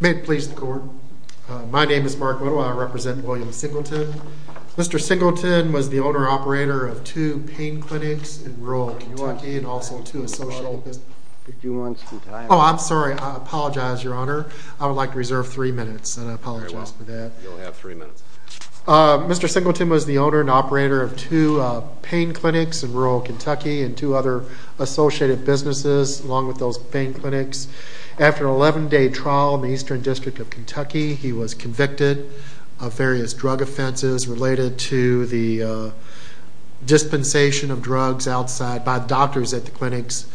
May it please the court. My name is Mark Little. I represent William Singleton. Mr. Singleton was the owner-operator of two pain clinics in rural Key West Virginia. Mr. Singleton was the owner and operator of two pain clinics in rural Kentucky and two other associated businesses along with those pain clinics. After an 11-day trial in the Eastern District of Kentucky, he was convicted of various drug offenses related to the dispensation of drugs by doctors at the clinics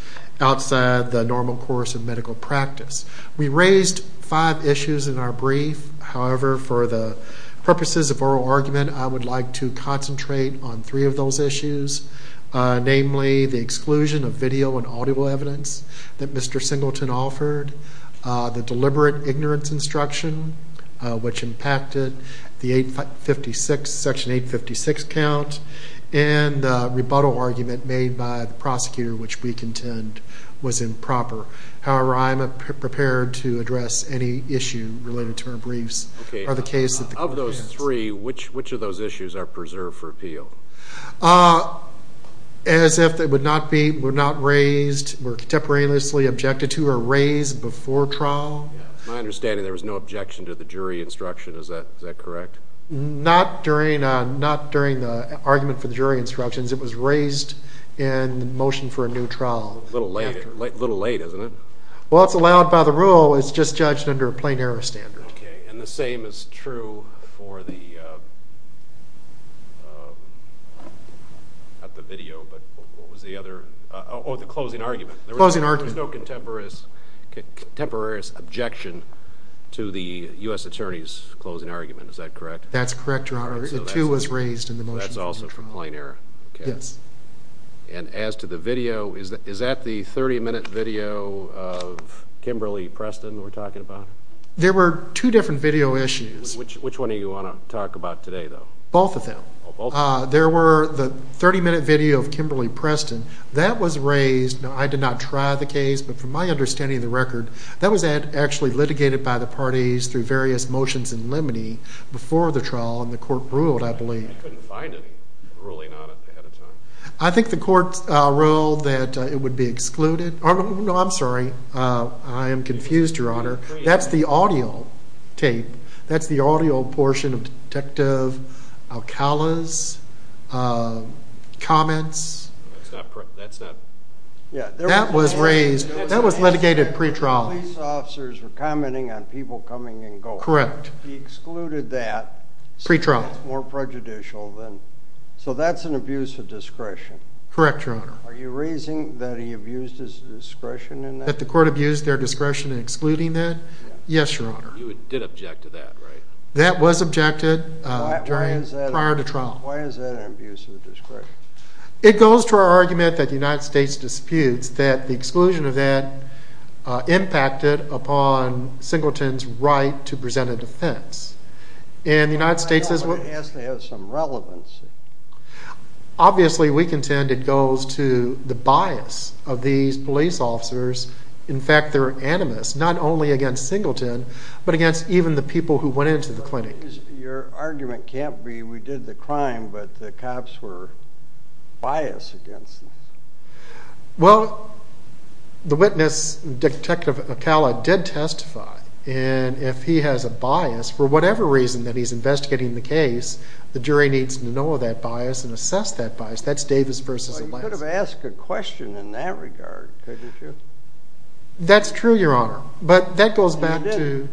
outside the normal course of medical practice. We raised five issues in our brief. However, for the purposes of oral argument, I would like to concentrate on three of those issues, namely the exclusion of video and audio evidence that Mr. Singleton offered, the deliberate ignorance instruction which impacted the section 856 count, and the rebuttal argument made by the prosecutor, which we contend was improper. However, I am prepared to address any issue related to our briefs. Of those three, which of those issues are preserved for appeal? As if they were not raised, were contemporaneously objected to or raised before trial. My understanding, there was no objection to the jury instruction. Is that correct? Not during the argument for the jury instructions. It was raised in the motion for a new trial. A little late, isn't it? Well, it's allowed by the rule. It's just judged under a plain error standard. Okay. And the same is true for the closing argument. Closing argument. There was no contemporaneous objection to the U.S. Attorney's closing argument. Is that correct? That's correct, Your Honor. It, too, was raised in the motion for a new trial. That's also for plain error. Yes. And as to the video, is that the 30-minute video of Kimberly-Preston we're talking about? There were two different video issues. Which one do you want to talk about today, though? Both of them. There were the 30-minute video of Kimberly-Preston. That was raised. Now, I did not try the case, but from my understanding of the record, that was actually litigated by the parties through various motions in limine before the trial, and the court ruled, I believe. I couldn't find any ruling on it ahead of time. I think the court ruled that it would be excluded. No, I'm sorry. I am confused, Your Honor. That's the audio tape. That's the audio portion of Detective Alcala's comments. That's not – That was raised – that was litigated pre-trial. The police officers were commenting on people coming and going. Correct. He excluded that. Pre-trial. More prejudicial than – so that's an abuse of discretion. Correct, Your Honor. Are you raising that he abused his discretion in that? That the court abused their discretion in excluding that? Yes, Your Honor. You did object to that, right? That was objected prior to trial. Why is that an abuse of discretion? It goes to our argument that the United States disputes that the exclusion of that impacted upon Singleton's right to present a defense. And the United States is – I don't want to ask to have some relevance. Obviously, we contend it goes to the bias of these police officers. In fact, they're animous, not only against Singleton, but against even the people who went into the clinic. Your argument can't be we did the crime, but the cops were biased against us. Well, the witness, Detective Acala, did testify. And if he has a bias, for whatever reason that he's investigating the case, the jury needs to know that bias and assess that bias. That's Davis v. Lansing. Well, you could have asked a question in that regard, couldn't you? That's true, Your Honor. But that goes back to – You didn't.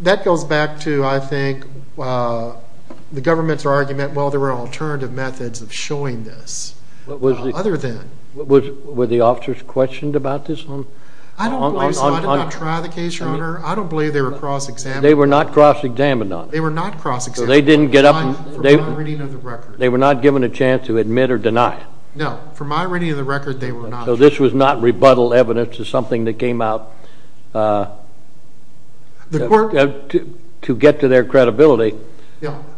That goes back to, I think, the government's argument, well, there were alternative methods of showing this, other than – Were the officers questioned about this on – I don't believe so. I did not try the case, Your Honor. I don't believe they were cross-examined. They were not cross-examined, Your Honor. They were not cross-examined. So they didn't get up – For my reading of the record. They were not given a chance to admit or deny. No, for my reading of the record, they were not. So this was not rebuttal evidence to something that came out to get to their credibility.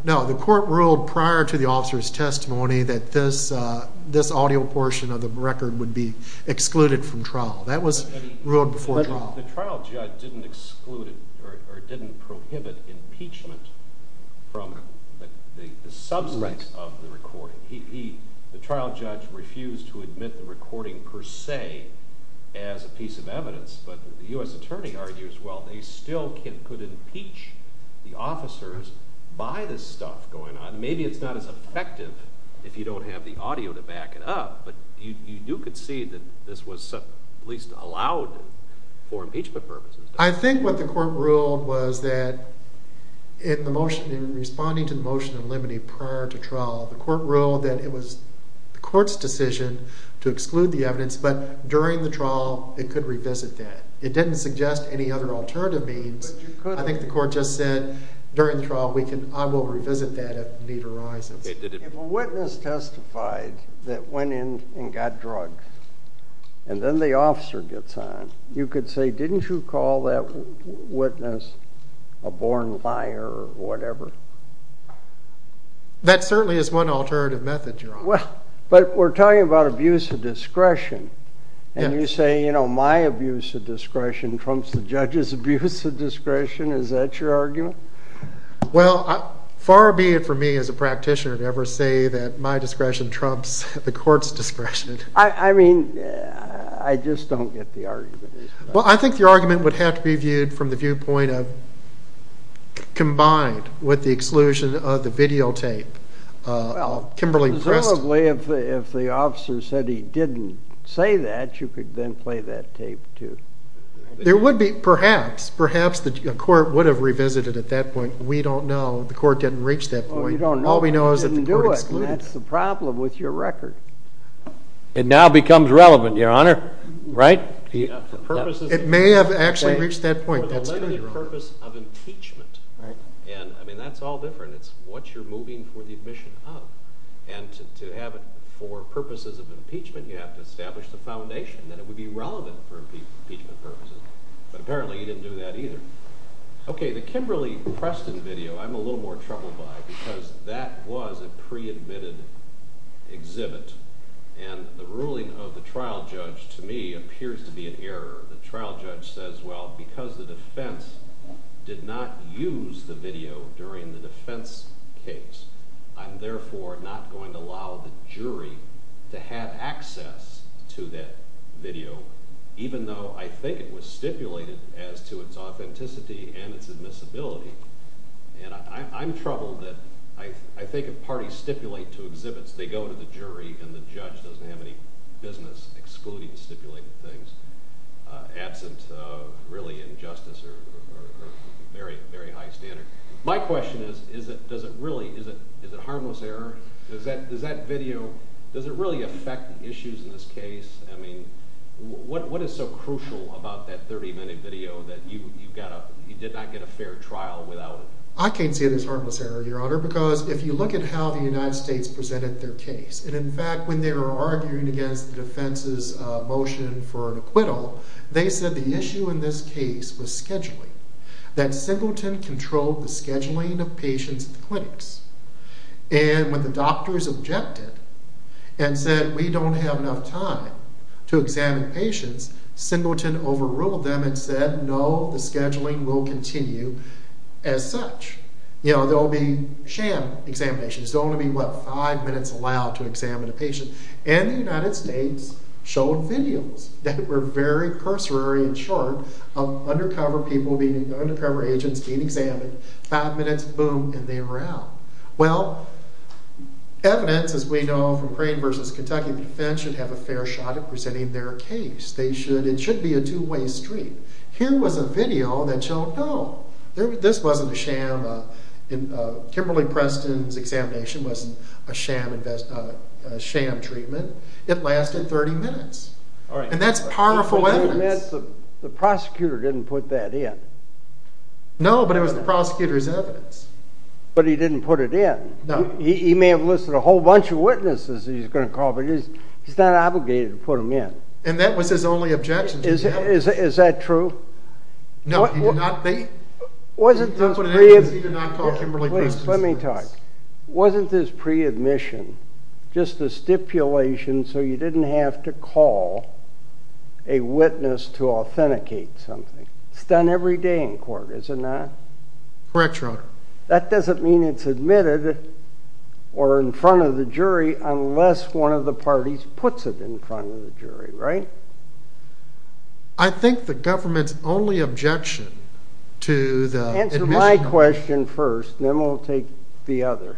No. The court ruled prior to the officer's testimony that this audio portion of the record would be excluded from trial. That was ruled before trial. The trial judge didn't exclude or didn't prohibit impeachment from the substance of the recording. The trial judge refused to admit the recording per se as a piece of evidence, but the U.S. attorney argues, well, they still could impeach the officers by this stuff going on. Maybe it's not as effective if you don't have the audio to back it up, but you do concede that this was at least allowed for impeachment purposes. I think what the court ruled was that in responding to the motion in limine prior to trial, the court ruled that it was the court's decision to exclude the evidence, but during the trial it could revisit that. It didn't suggest any other alternative means. I think the court just said during the trial, I will revisit that if need arises. If a witness testified that went in and got drugged and then the officer gets on, you could say, didn't you call that witness a born liar or whatever? That certainly is one alternative method, Your Honor. Well, but we're talking about abuse of discretion, and you say, you know, my abuse of discretion trumps the judge's abuse of discretion. Is that your argument? Well, far be it for me as a practitioner to ever say that my discretion trumps the court's discretion. I mean, I just don't get the argument. Well, I think your argument would have to be viewed from the viewpoint of combined with the exclusion of the videotape. Well, presumably if the officer said he didn't say that, you could then play that tape too. There would be, perhaps. Perhaps the court would have revisited at that point. We don't know. The court didn't reach that point. All we know is that the court excluded. That's the problem with your record. It now becomes relevant, Your Honor, right? It may have actually reached that point. For the limited purpose of impeachment. And, I mean, that's all different. It's what you're moving for the admission of. And to have it for purposes of impeachment, you have to establish the foundation that it would be relevant for impeachment purposes. But apparently he didn't do that either. Okay, the Kimberly-Preston video I'm a little more troubled by because that was a pre-admitted exhibit. And the ruling of the trial judge, to me, appears to be an error. The trial judge says, well, because the defense did not use the video during the defense case, I'm therefore not going to allow the jury to have access to that video. Even though I think it was stipulated as to its authenticity and its admissibility. And I'm troubled that I think if parties stipulate to exhibits, they go to the jury and the judge doesn't have any business excluding stipulated things. Absent, really, injustice or very high standards. My question is, is it harmless error? Does that video, does it really affect the issues in this case? What is so crucial about that 30-minute video that you did not get a fair trial without it? I can't see it as harmless error, Your Honor, because if you look at how the United States presented their case. And in fact, when they were arguing against the defense's motion for an acquittal, they said the issue in this case was scheduling. That Singleton controlled the scheduling of patients at the clinics. And when the doctors objected and said, we don't have enough time to examine patients, Singleton overruled them and said, no, the scheduling will continue as such. You know, there will be sham examinations. There will only be, what, five minutes allowed to examine a patient. And the United States showed videos that were very cursory and short of undercover agents being examined. Five minutes, boom, and they were out. Well, evidence, as we know from Crane v. Kentucky, the defense should have a fair shot at presenting their case. It should be a two-way street. Here was a video that showed, no, this wasn't a sham. Kimberly Preston's examination wasn't a sham treatment. It lasted 30 minutes. And that's powerful evidence. The prosecutor didn't put that in. No, but it was the prosecutor's evidence. But he didn't put it in. No. He may have listed a whole bunch of witnesses he's going to call, but he's not obligated to put them in. And that was his only objection to the evidence. Is that true? No, he did not. Let me talk. Wasn't this pre-admission just a stipulation so you didn't have to call a witness to authenticate something? It's done every day in court, is it not? Correct, Your Honor. That doesn't mean it's admitted or in front of the jury unless one of the parties puts it in front of the jury, right? I think the government's only objection to the admission... Answer my question first, then we'll take the other.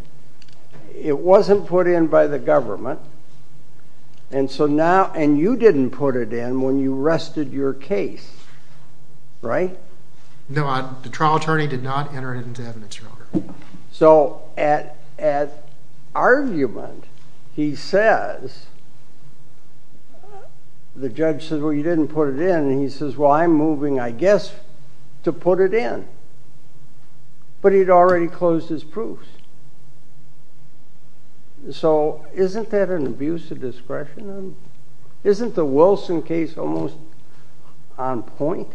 It wasn't put in by the government, and you didn't put it in when you rested your case, right? No, the trial attorney did not enter it into evidence, Your Honor. So at argument, he says, the judge says, well, you didn't put it in. And he says, well, I'm moving, I guess, to put it in. But he'd already closed his proofs. So isn't that an abuse of discretion? Isn't the Wilson case almost on point?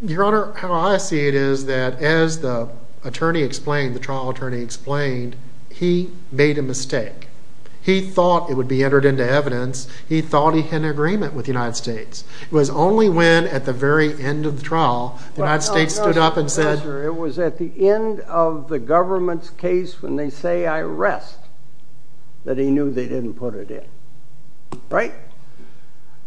Your Honor, how I see it is that as the attorney explained, the trial attorney explained, he made a mistake. He thought it would be entered into evidence. He thought he had an agreement with the United States. It was only when, at the very end of the trial, the United States stood up and said... It was at the end of the government's case when they say I rest that he knew they didn't put it in, right?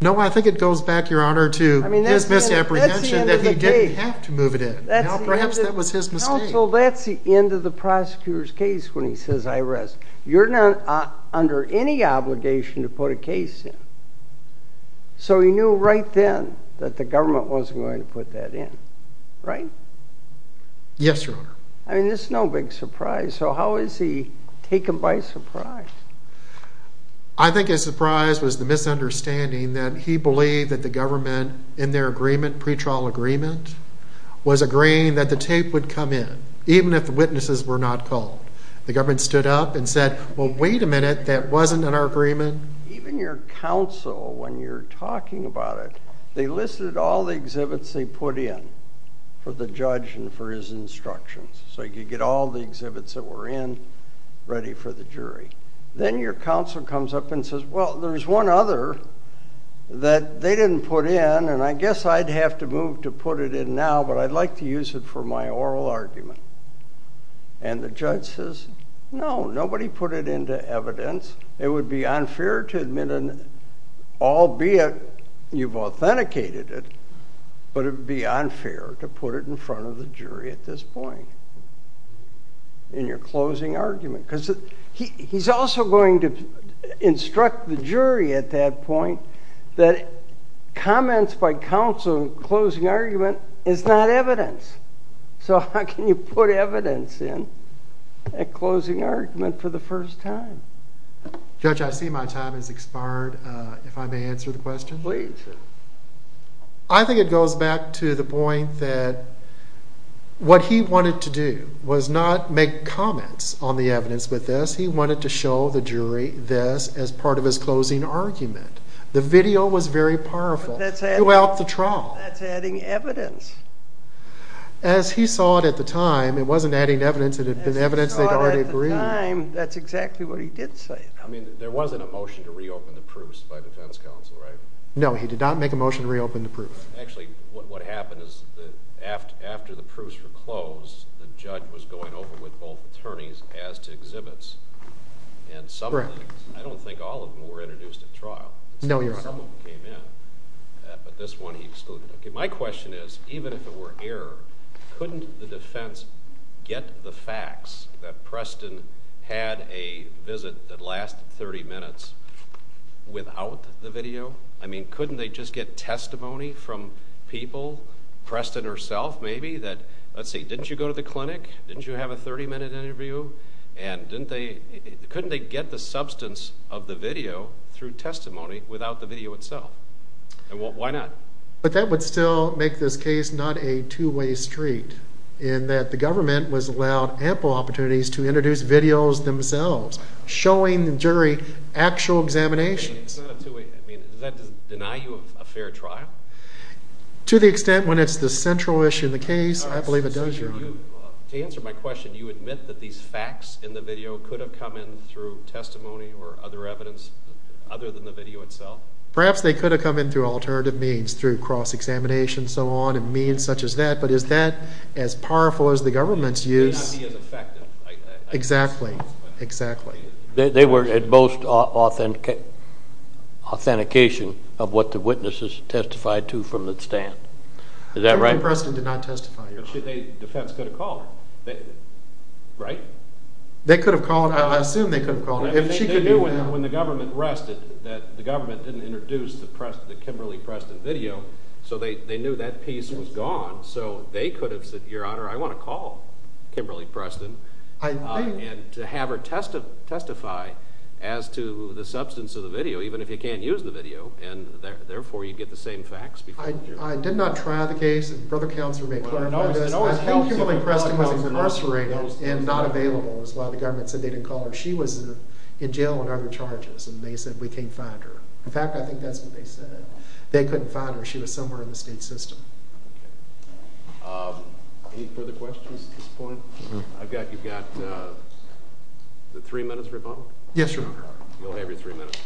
No, I think it goes back, Your Honor, to his misapprehension that he didn't have to move it in. Perhaps that was his mistake. Counsel, that's the end of the prosecutor's case when he says I rest. You're not under any obligation to put a case in. So he knew right then that the government wasn't going to put that in, right? Yes, Your Honor. I mean, it's no big surprise. So how is he taken by surprise? I think his surprise was the misunderstanding that he believed that the government, in their agreement, pre-trial agreement, was agreeing that the tape would come in even if the witnesses were not called. The government stood up and said, well, wait a minute. That wasn't in our agreement. Even your counsel, when you're talking about it, they listed all the exhibits they put in for the judge and for his instructions so he could get all the exhibits that were in ready for the jury. Then your counsel comes up and says, well, there's one other that they didn't put in, and I guess I'd have to move to put it in now, but I'd like to use it for my oral argument. And the judge says, no, nobody put it into evidence. It would be unfair to admit, albeit you've authenticated it, but it would be unfair to put it in front of the jury at this point in your closing argument. Because he's also going to instruct the jury at that point that comments by counsel in closing argument is not evidence. So how can you put evidence in a closing argument for the first time? Judge, I see my time has expired. If I may answer the question? Please. I think it goes back to the point that what he wanted to do was not make comments on the evidence with this. He wanted to show the jury this as part of his closing argument. The video was very powerful throughout the trial. That's adding evidence. As he saw it at the time, it wasn't adding evidence. It had been evidence they'd already agreed. As he saw it at the time, that's exactly what he did say. I mean, there wasn't a motion to reopen the proofs by defense counsel, right? No, he did not make a motion to reopen the proofs. Actually, what happened is that after the proofs were closed, the judge was going over with both attorneys as to exhibits. And some of them, I don't think all of them, were introduced at trial. No, Your Honor. Some of them came in, but this one he excluded. My question is, even if it were error, couldn't the defense get the facts that Preston had a visit that lasted 30 minutes without the video? I mean, couldn't they just get testimony from people, Preston herself maybe, that, let's see, didn't you go to the clinic? Didn't you have a 30-minute interview? And couldn't they get the substance of the video through testimony without the video itself? And why not? But that would still make this case not a two-way street in that the government was allowed ample opportunities to introduce videos themselves, showing the jury actual examinations. I mean, is that to deny you a fair trial? To the extent when it's the central issue in the case, I believe it does, Your Honor. To answer my question, you admit that these facts in the video could have come in through testimony or other evidence other than the video itself? Perhaps they could have come in through alternative means, through cross-examination, so on, and means such as that. But is that as powerful as the government's use? It would not be as effective. Exactly, exactly. They were at most authentication of what the witnesses testified to from the stand. Is that right? Kimberly Preston did not testify, Your Honor. Defense could have called her, right? They could have called her. I assume they could have called her. They knew when the government rested that the government didn't introduce the Kimberly Preston video, so they knew that piece was gone. So they could have said, Your Honor, I want to call Kimberly Preston and have her testify as to the substance of the video, even if you can't use the video, and therefore you'd get the same facts. I did not try the case. Brother Counselor may clarify this. I think Kimberly Preston was incarcerated and not available. That's why the government said they didn't call her. She was in jail on other charges, and they said we can't find her. In fact, I think that's what they said. They couldn't find her. She was somewhere in the state system. Any further questions at this point? You've got three minutes, Rebondo? Yes, Your Honor. You'll have your three minutes.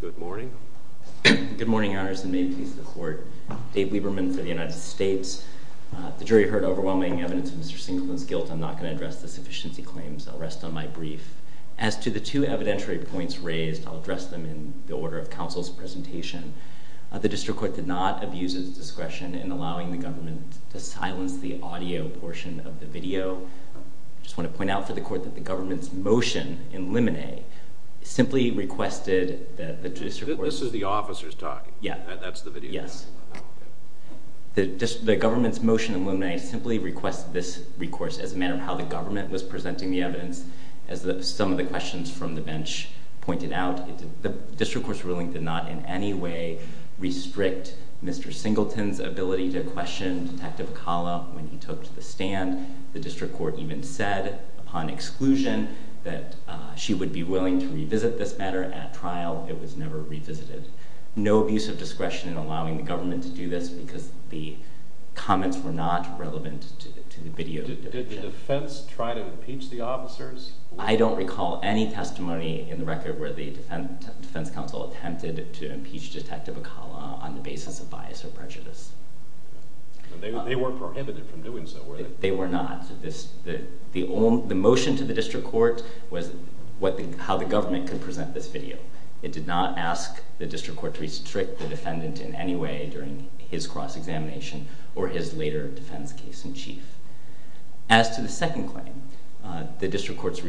Good morning. Good morning, Your Honors, and may it please the Court. Dave Lieberman for the United States. The jury heard overwhelming evidence of Mr. Sinclair's guilt. I'm not going to address the sufficiency claims. I'll rest on my brief. As to the two evidentiary points raised, I'll address them in the order of counsel's presentation. The district court did not abuse its discretion in allowing the government to silence the audio portion of the video. I just want to point out for the court that the government's motion in limine simply requested that the district court— This is the officers talking. Yeah. That's the video. Yes. The government's motion in limine simply requested this recourse as a matter of how the government was presenting the evidence as some of the questions from the bench pointed out. The district court's ruling did not in any way restrict Mr. Singleton's ability to question Detective Acala when he took to the stand. The district court even said upon exclusion that she would be willing to revisit this matter at trial. It was never revisited. No abuse of discretion in allowing the government to do this because the comments were not relevant to the video. Did the defense try to impeach the officers? I don't recall any testimony in the record where the defense counsel attempted to impeach Detective Acala on the basis of bias or prejudice. They weren't prohibited from doing so, were they? They were not. The motion to the district court was how the government could present this video. It did not ask the district court to restrict the defendant in any way during his cross-examination or his later defense case in chief. As to the second claim, the district court's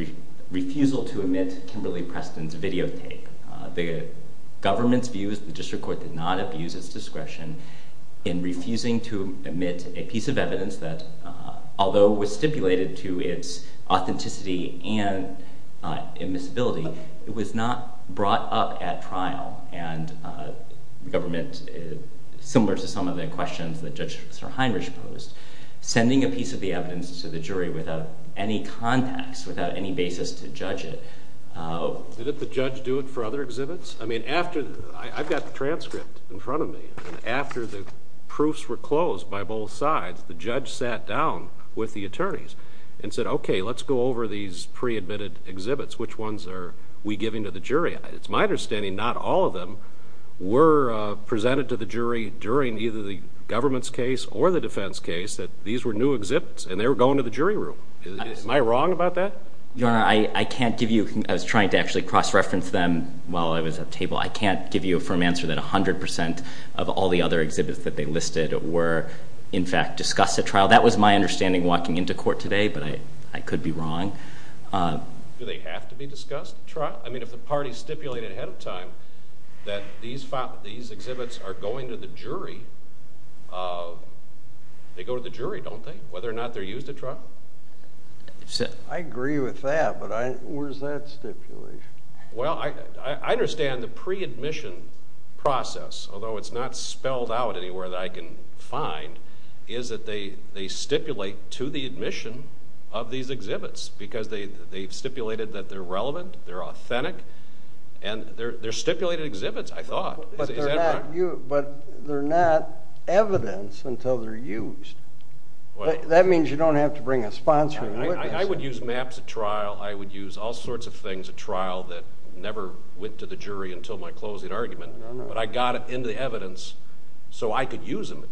refusal to omit Kimberly Preston's videotape, the government's views, the district court did not abuse its discretion in refusing to omit a piece of evidence that although was stipulated to its authenticity and admissibility, it was not brought up at trial and the government, similar to some of the questions that Judge Sir Heinrich posed, sending a piece of the evidence to the jury without any context, without any basis to judge it. Did the judge do it for other exhibits? I've got the transcript in front of me. After the proofs were closed by both sides, the judge sat down with the attorneys and said, okay, let's go over these pre-admitted exhibits. Which ones are we giving to the jury? It's my understanding not all of them were presented to the jury during either the government's case or the defense case, that these were new exhibits and they were going to the jury room. Am I wrong about that? Your Honor, I can't give youóI was trying to actually cross-reference them while I was at the table. I can't give you a firm answer that 100% of all the other exhibits that they listed were in fact discussed at trial. That was my understanding walking into court today, but I could be wrong. Do they have to be discussed at trial? I mean, if the party stipulated ahead of time that these exhibits are going to the jury, they go to the jury, don't they, whether or not they're used at trial? I agree with that, but where's that stipulation? Well, I understand the pre-admission process, although it's not spelled out anywhere that I can find, is that they stipulate to the admission of these exhibits because they've stipulated that they're relevant, they're authentic, and they're stipulated exhibits, I thought. But they're not evidence until they're used. That means you don't have to bring a sponsor. I would use maps at trial. I would use all sorts of things at trial that never went to the jury until my closing argument, but I got it into the evidence so I could use them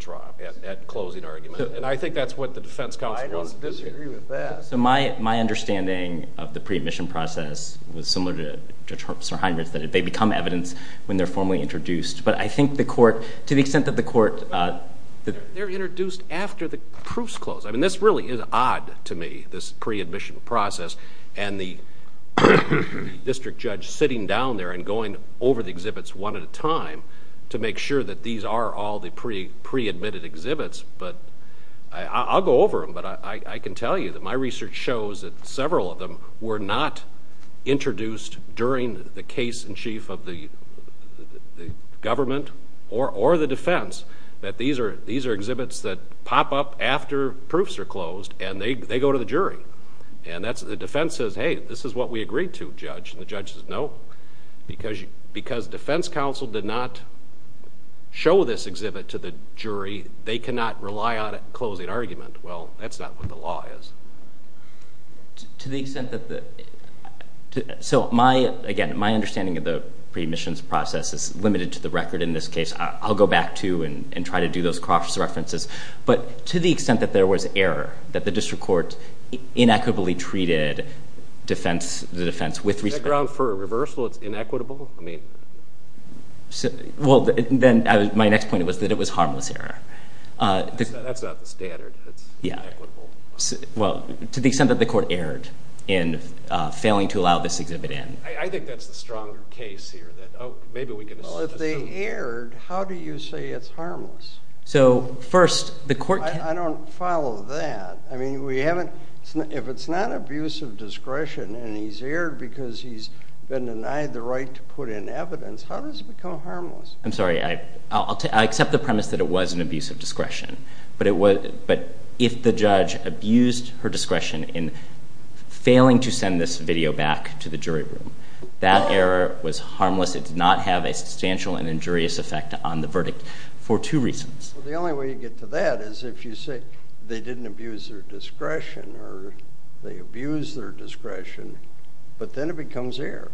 at closing argument, and I think that's what the defense counsel wants to do here. I agree with that. So my understanding of the pre-admission process was similar to Judge Sirheimer's, that they become evidence when they're formally introduced. But I think the court, to the extent that the court – They're introduced after the proofs close. I mean, this really is odd to me, this pre-admission process and the district judge sitting down there and going over the exhibits one at a time to make sure that these are all the pre-admitted exhibits. I'll go over them, but I can tell you that my research shows that several of them were not introduced during the case in chief of the government or the defense, that these are exhibits that pop up after proofs are closed and they go to the jury. And the defense says, Hey, this is what we agreed to, Judge. And the judge says, No, because defense counsel did not show this exhibit to the jury. They cannot rely on a closing argument. Well, that's not what the law is. To the extent that the – So, again, my understanding of the pre-admissions process is limited to the record in this case. I'll go back to and try to do those cross-references. But to the extent that there was error, that the district court inequitably treated the defense with respect – Background for reversal, it's inequitable? Well, then my next point was that it was harmless error. That's not the standard. It's inequitable. Well, to the extent that the court erred in failing to allow this exhibit in. I think that's the stronger case here that, Oh, maybe we can assume. Well, if they erred, how do you say it's harmless? So, first, the court – I don't follow that. I mean, if it's not abuse of discretion and he's erred because he's been denied the right to put in evidence, how does it become harmless? I'm sorry. I accept the premise that it was an abuse of discretion. But if the judge abused her discretion in failing to send this video back to the jury room, that error was harmless. It did not have a substantial and injurious effect on the verdict for two reasons. Well, the only way you get to that is if you say they didn't abuse their discretion or they abused their discretion, but then it becomes error.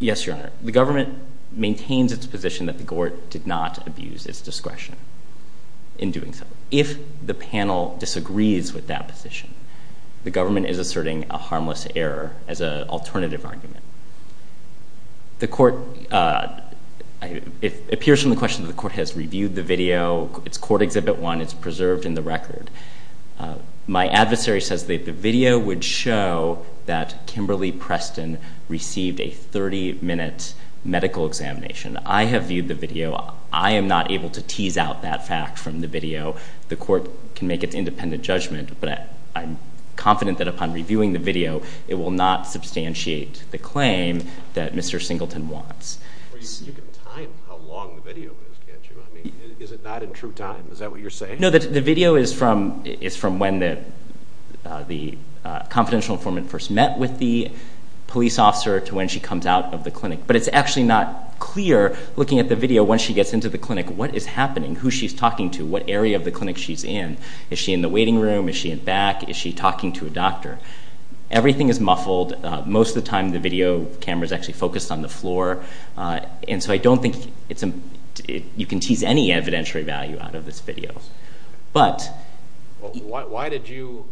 Yes, Your Honor. The government maintains its position that the court did not abuse its discretion in doing so. If the panel disagrees with that position, the government is asserting a harmless error as an alternative argument. The court – it appears from the question that the court has reviewed the video. It's Court Exhibit 1. It's preserved in the record. My adversary says that the video would show that Kimberly Preston received a 30-minute medical examination. I have viewed the video. I am not able to tease out that fact from the video. The court can make its independent judgment, but I'm confident that upon reviewing the video, it will not substantiate the claim that Mr. Singleton wants. Well, you can time how long the video is, can't you? I mean, is it not in true time? Is that what you're saying? No, the video is from when the confidential informant first met with the police officer to when she comes out of the clinic. But it's actually not clear, looking at the video, once she gets into the clinic, what is happening, who she's talking to, what area of the clinic she's in. Is she in the waiting room? Is she in back? Is she talking to a doctor? Everything is muffled. Most of the time the video camera is actually focused on the floor. And so I don't think you can tease any evidentiary value out of this video. Why did you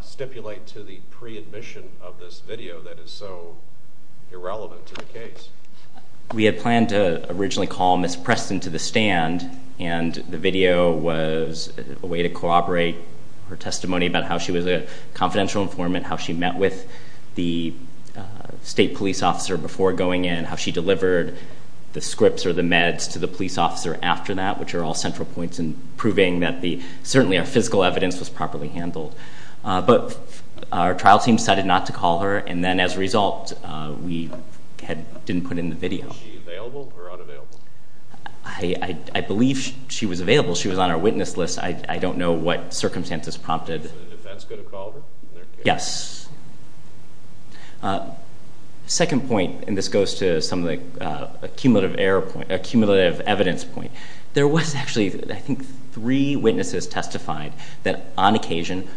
stipulate to the pre-admission of this video that is so irrelevant to the case? We had planned to originally call Ms. Preston to the stand, and the video was a way to corroborate her testimony about how she was a confidential informant, how she met with the state police officer before going in, how she delivered the scripts or the meds to the police officer after that, which are all central points in proving that certainly our physical evidence was properly handled. But our trial team decided not to call her, and then as a result we didn't put in the video. Was she available or unavailable? I believe she was available. She was on our witness list. I don't know what circumstances prompted. Was the defense going to call her? Yes. Second point, and this goes to some of the accumulative evidence point. There was actually, I think, three witnesses testified that on occasion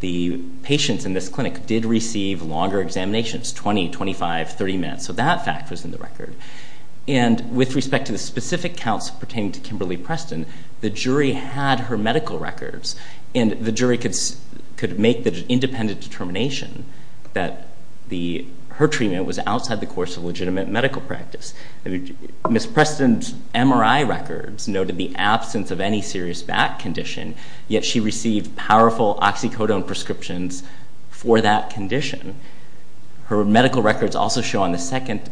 the patients in this clinic did receive longer examinations, 20, 25, 30 minutes. So that fact was in the record. And with respect to the specific counts pertaining to Kimberly Preston, the jury had her medical records, and the jury could make the independent determination that her treatment was outside the course of legitimate medical practice. Ms. Preston's MRI records noted the absence of any serious back condition, yet she received powerful oxycodone prescriptions for that condition. Her medical records also show on the second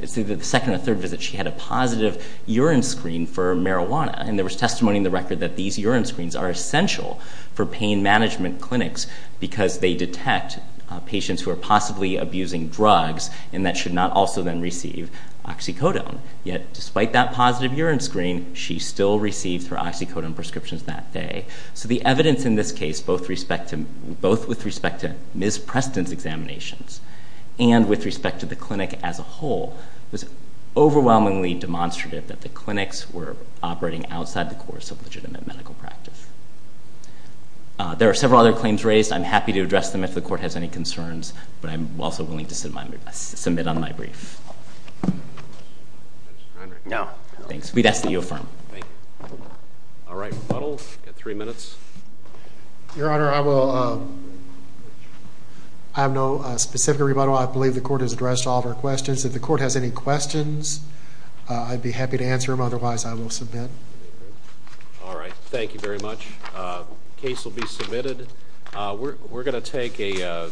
or third visit she had a positive urine screen for marijuana, and there was testimony in the record that these urine screens are essential for pain management clinics because they detect patients who are possibly abusing drugs and that should not also then receive oxycodone. Yet despite that positive urine screen, she still received her oxycodone prescriptions that day. So the evidence in this case, both with respect to Ms. Preston's examinations and with respect to the clinic as a whole, was overwhelmingly demonstrative that the clinics were operating outside the course of legitimate medical practice. There are several other claims raised. I'm happy to address them if the court has any concerns, but I'm also willing to submit on my brief. No. Thanks. We'd ask that you affirm. Thank you. All right, rebuttal. You've got three minutes. Your Honor, I have no specific rebuttal. I believe the court has addressed all of our questions. If the court has any questions, I'd be happy to answer them. Otherwise, I will submit. All right. Thank you very much. Case will be submitted. We're going to take a...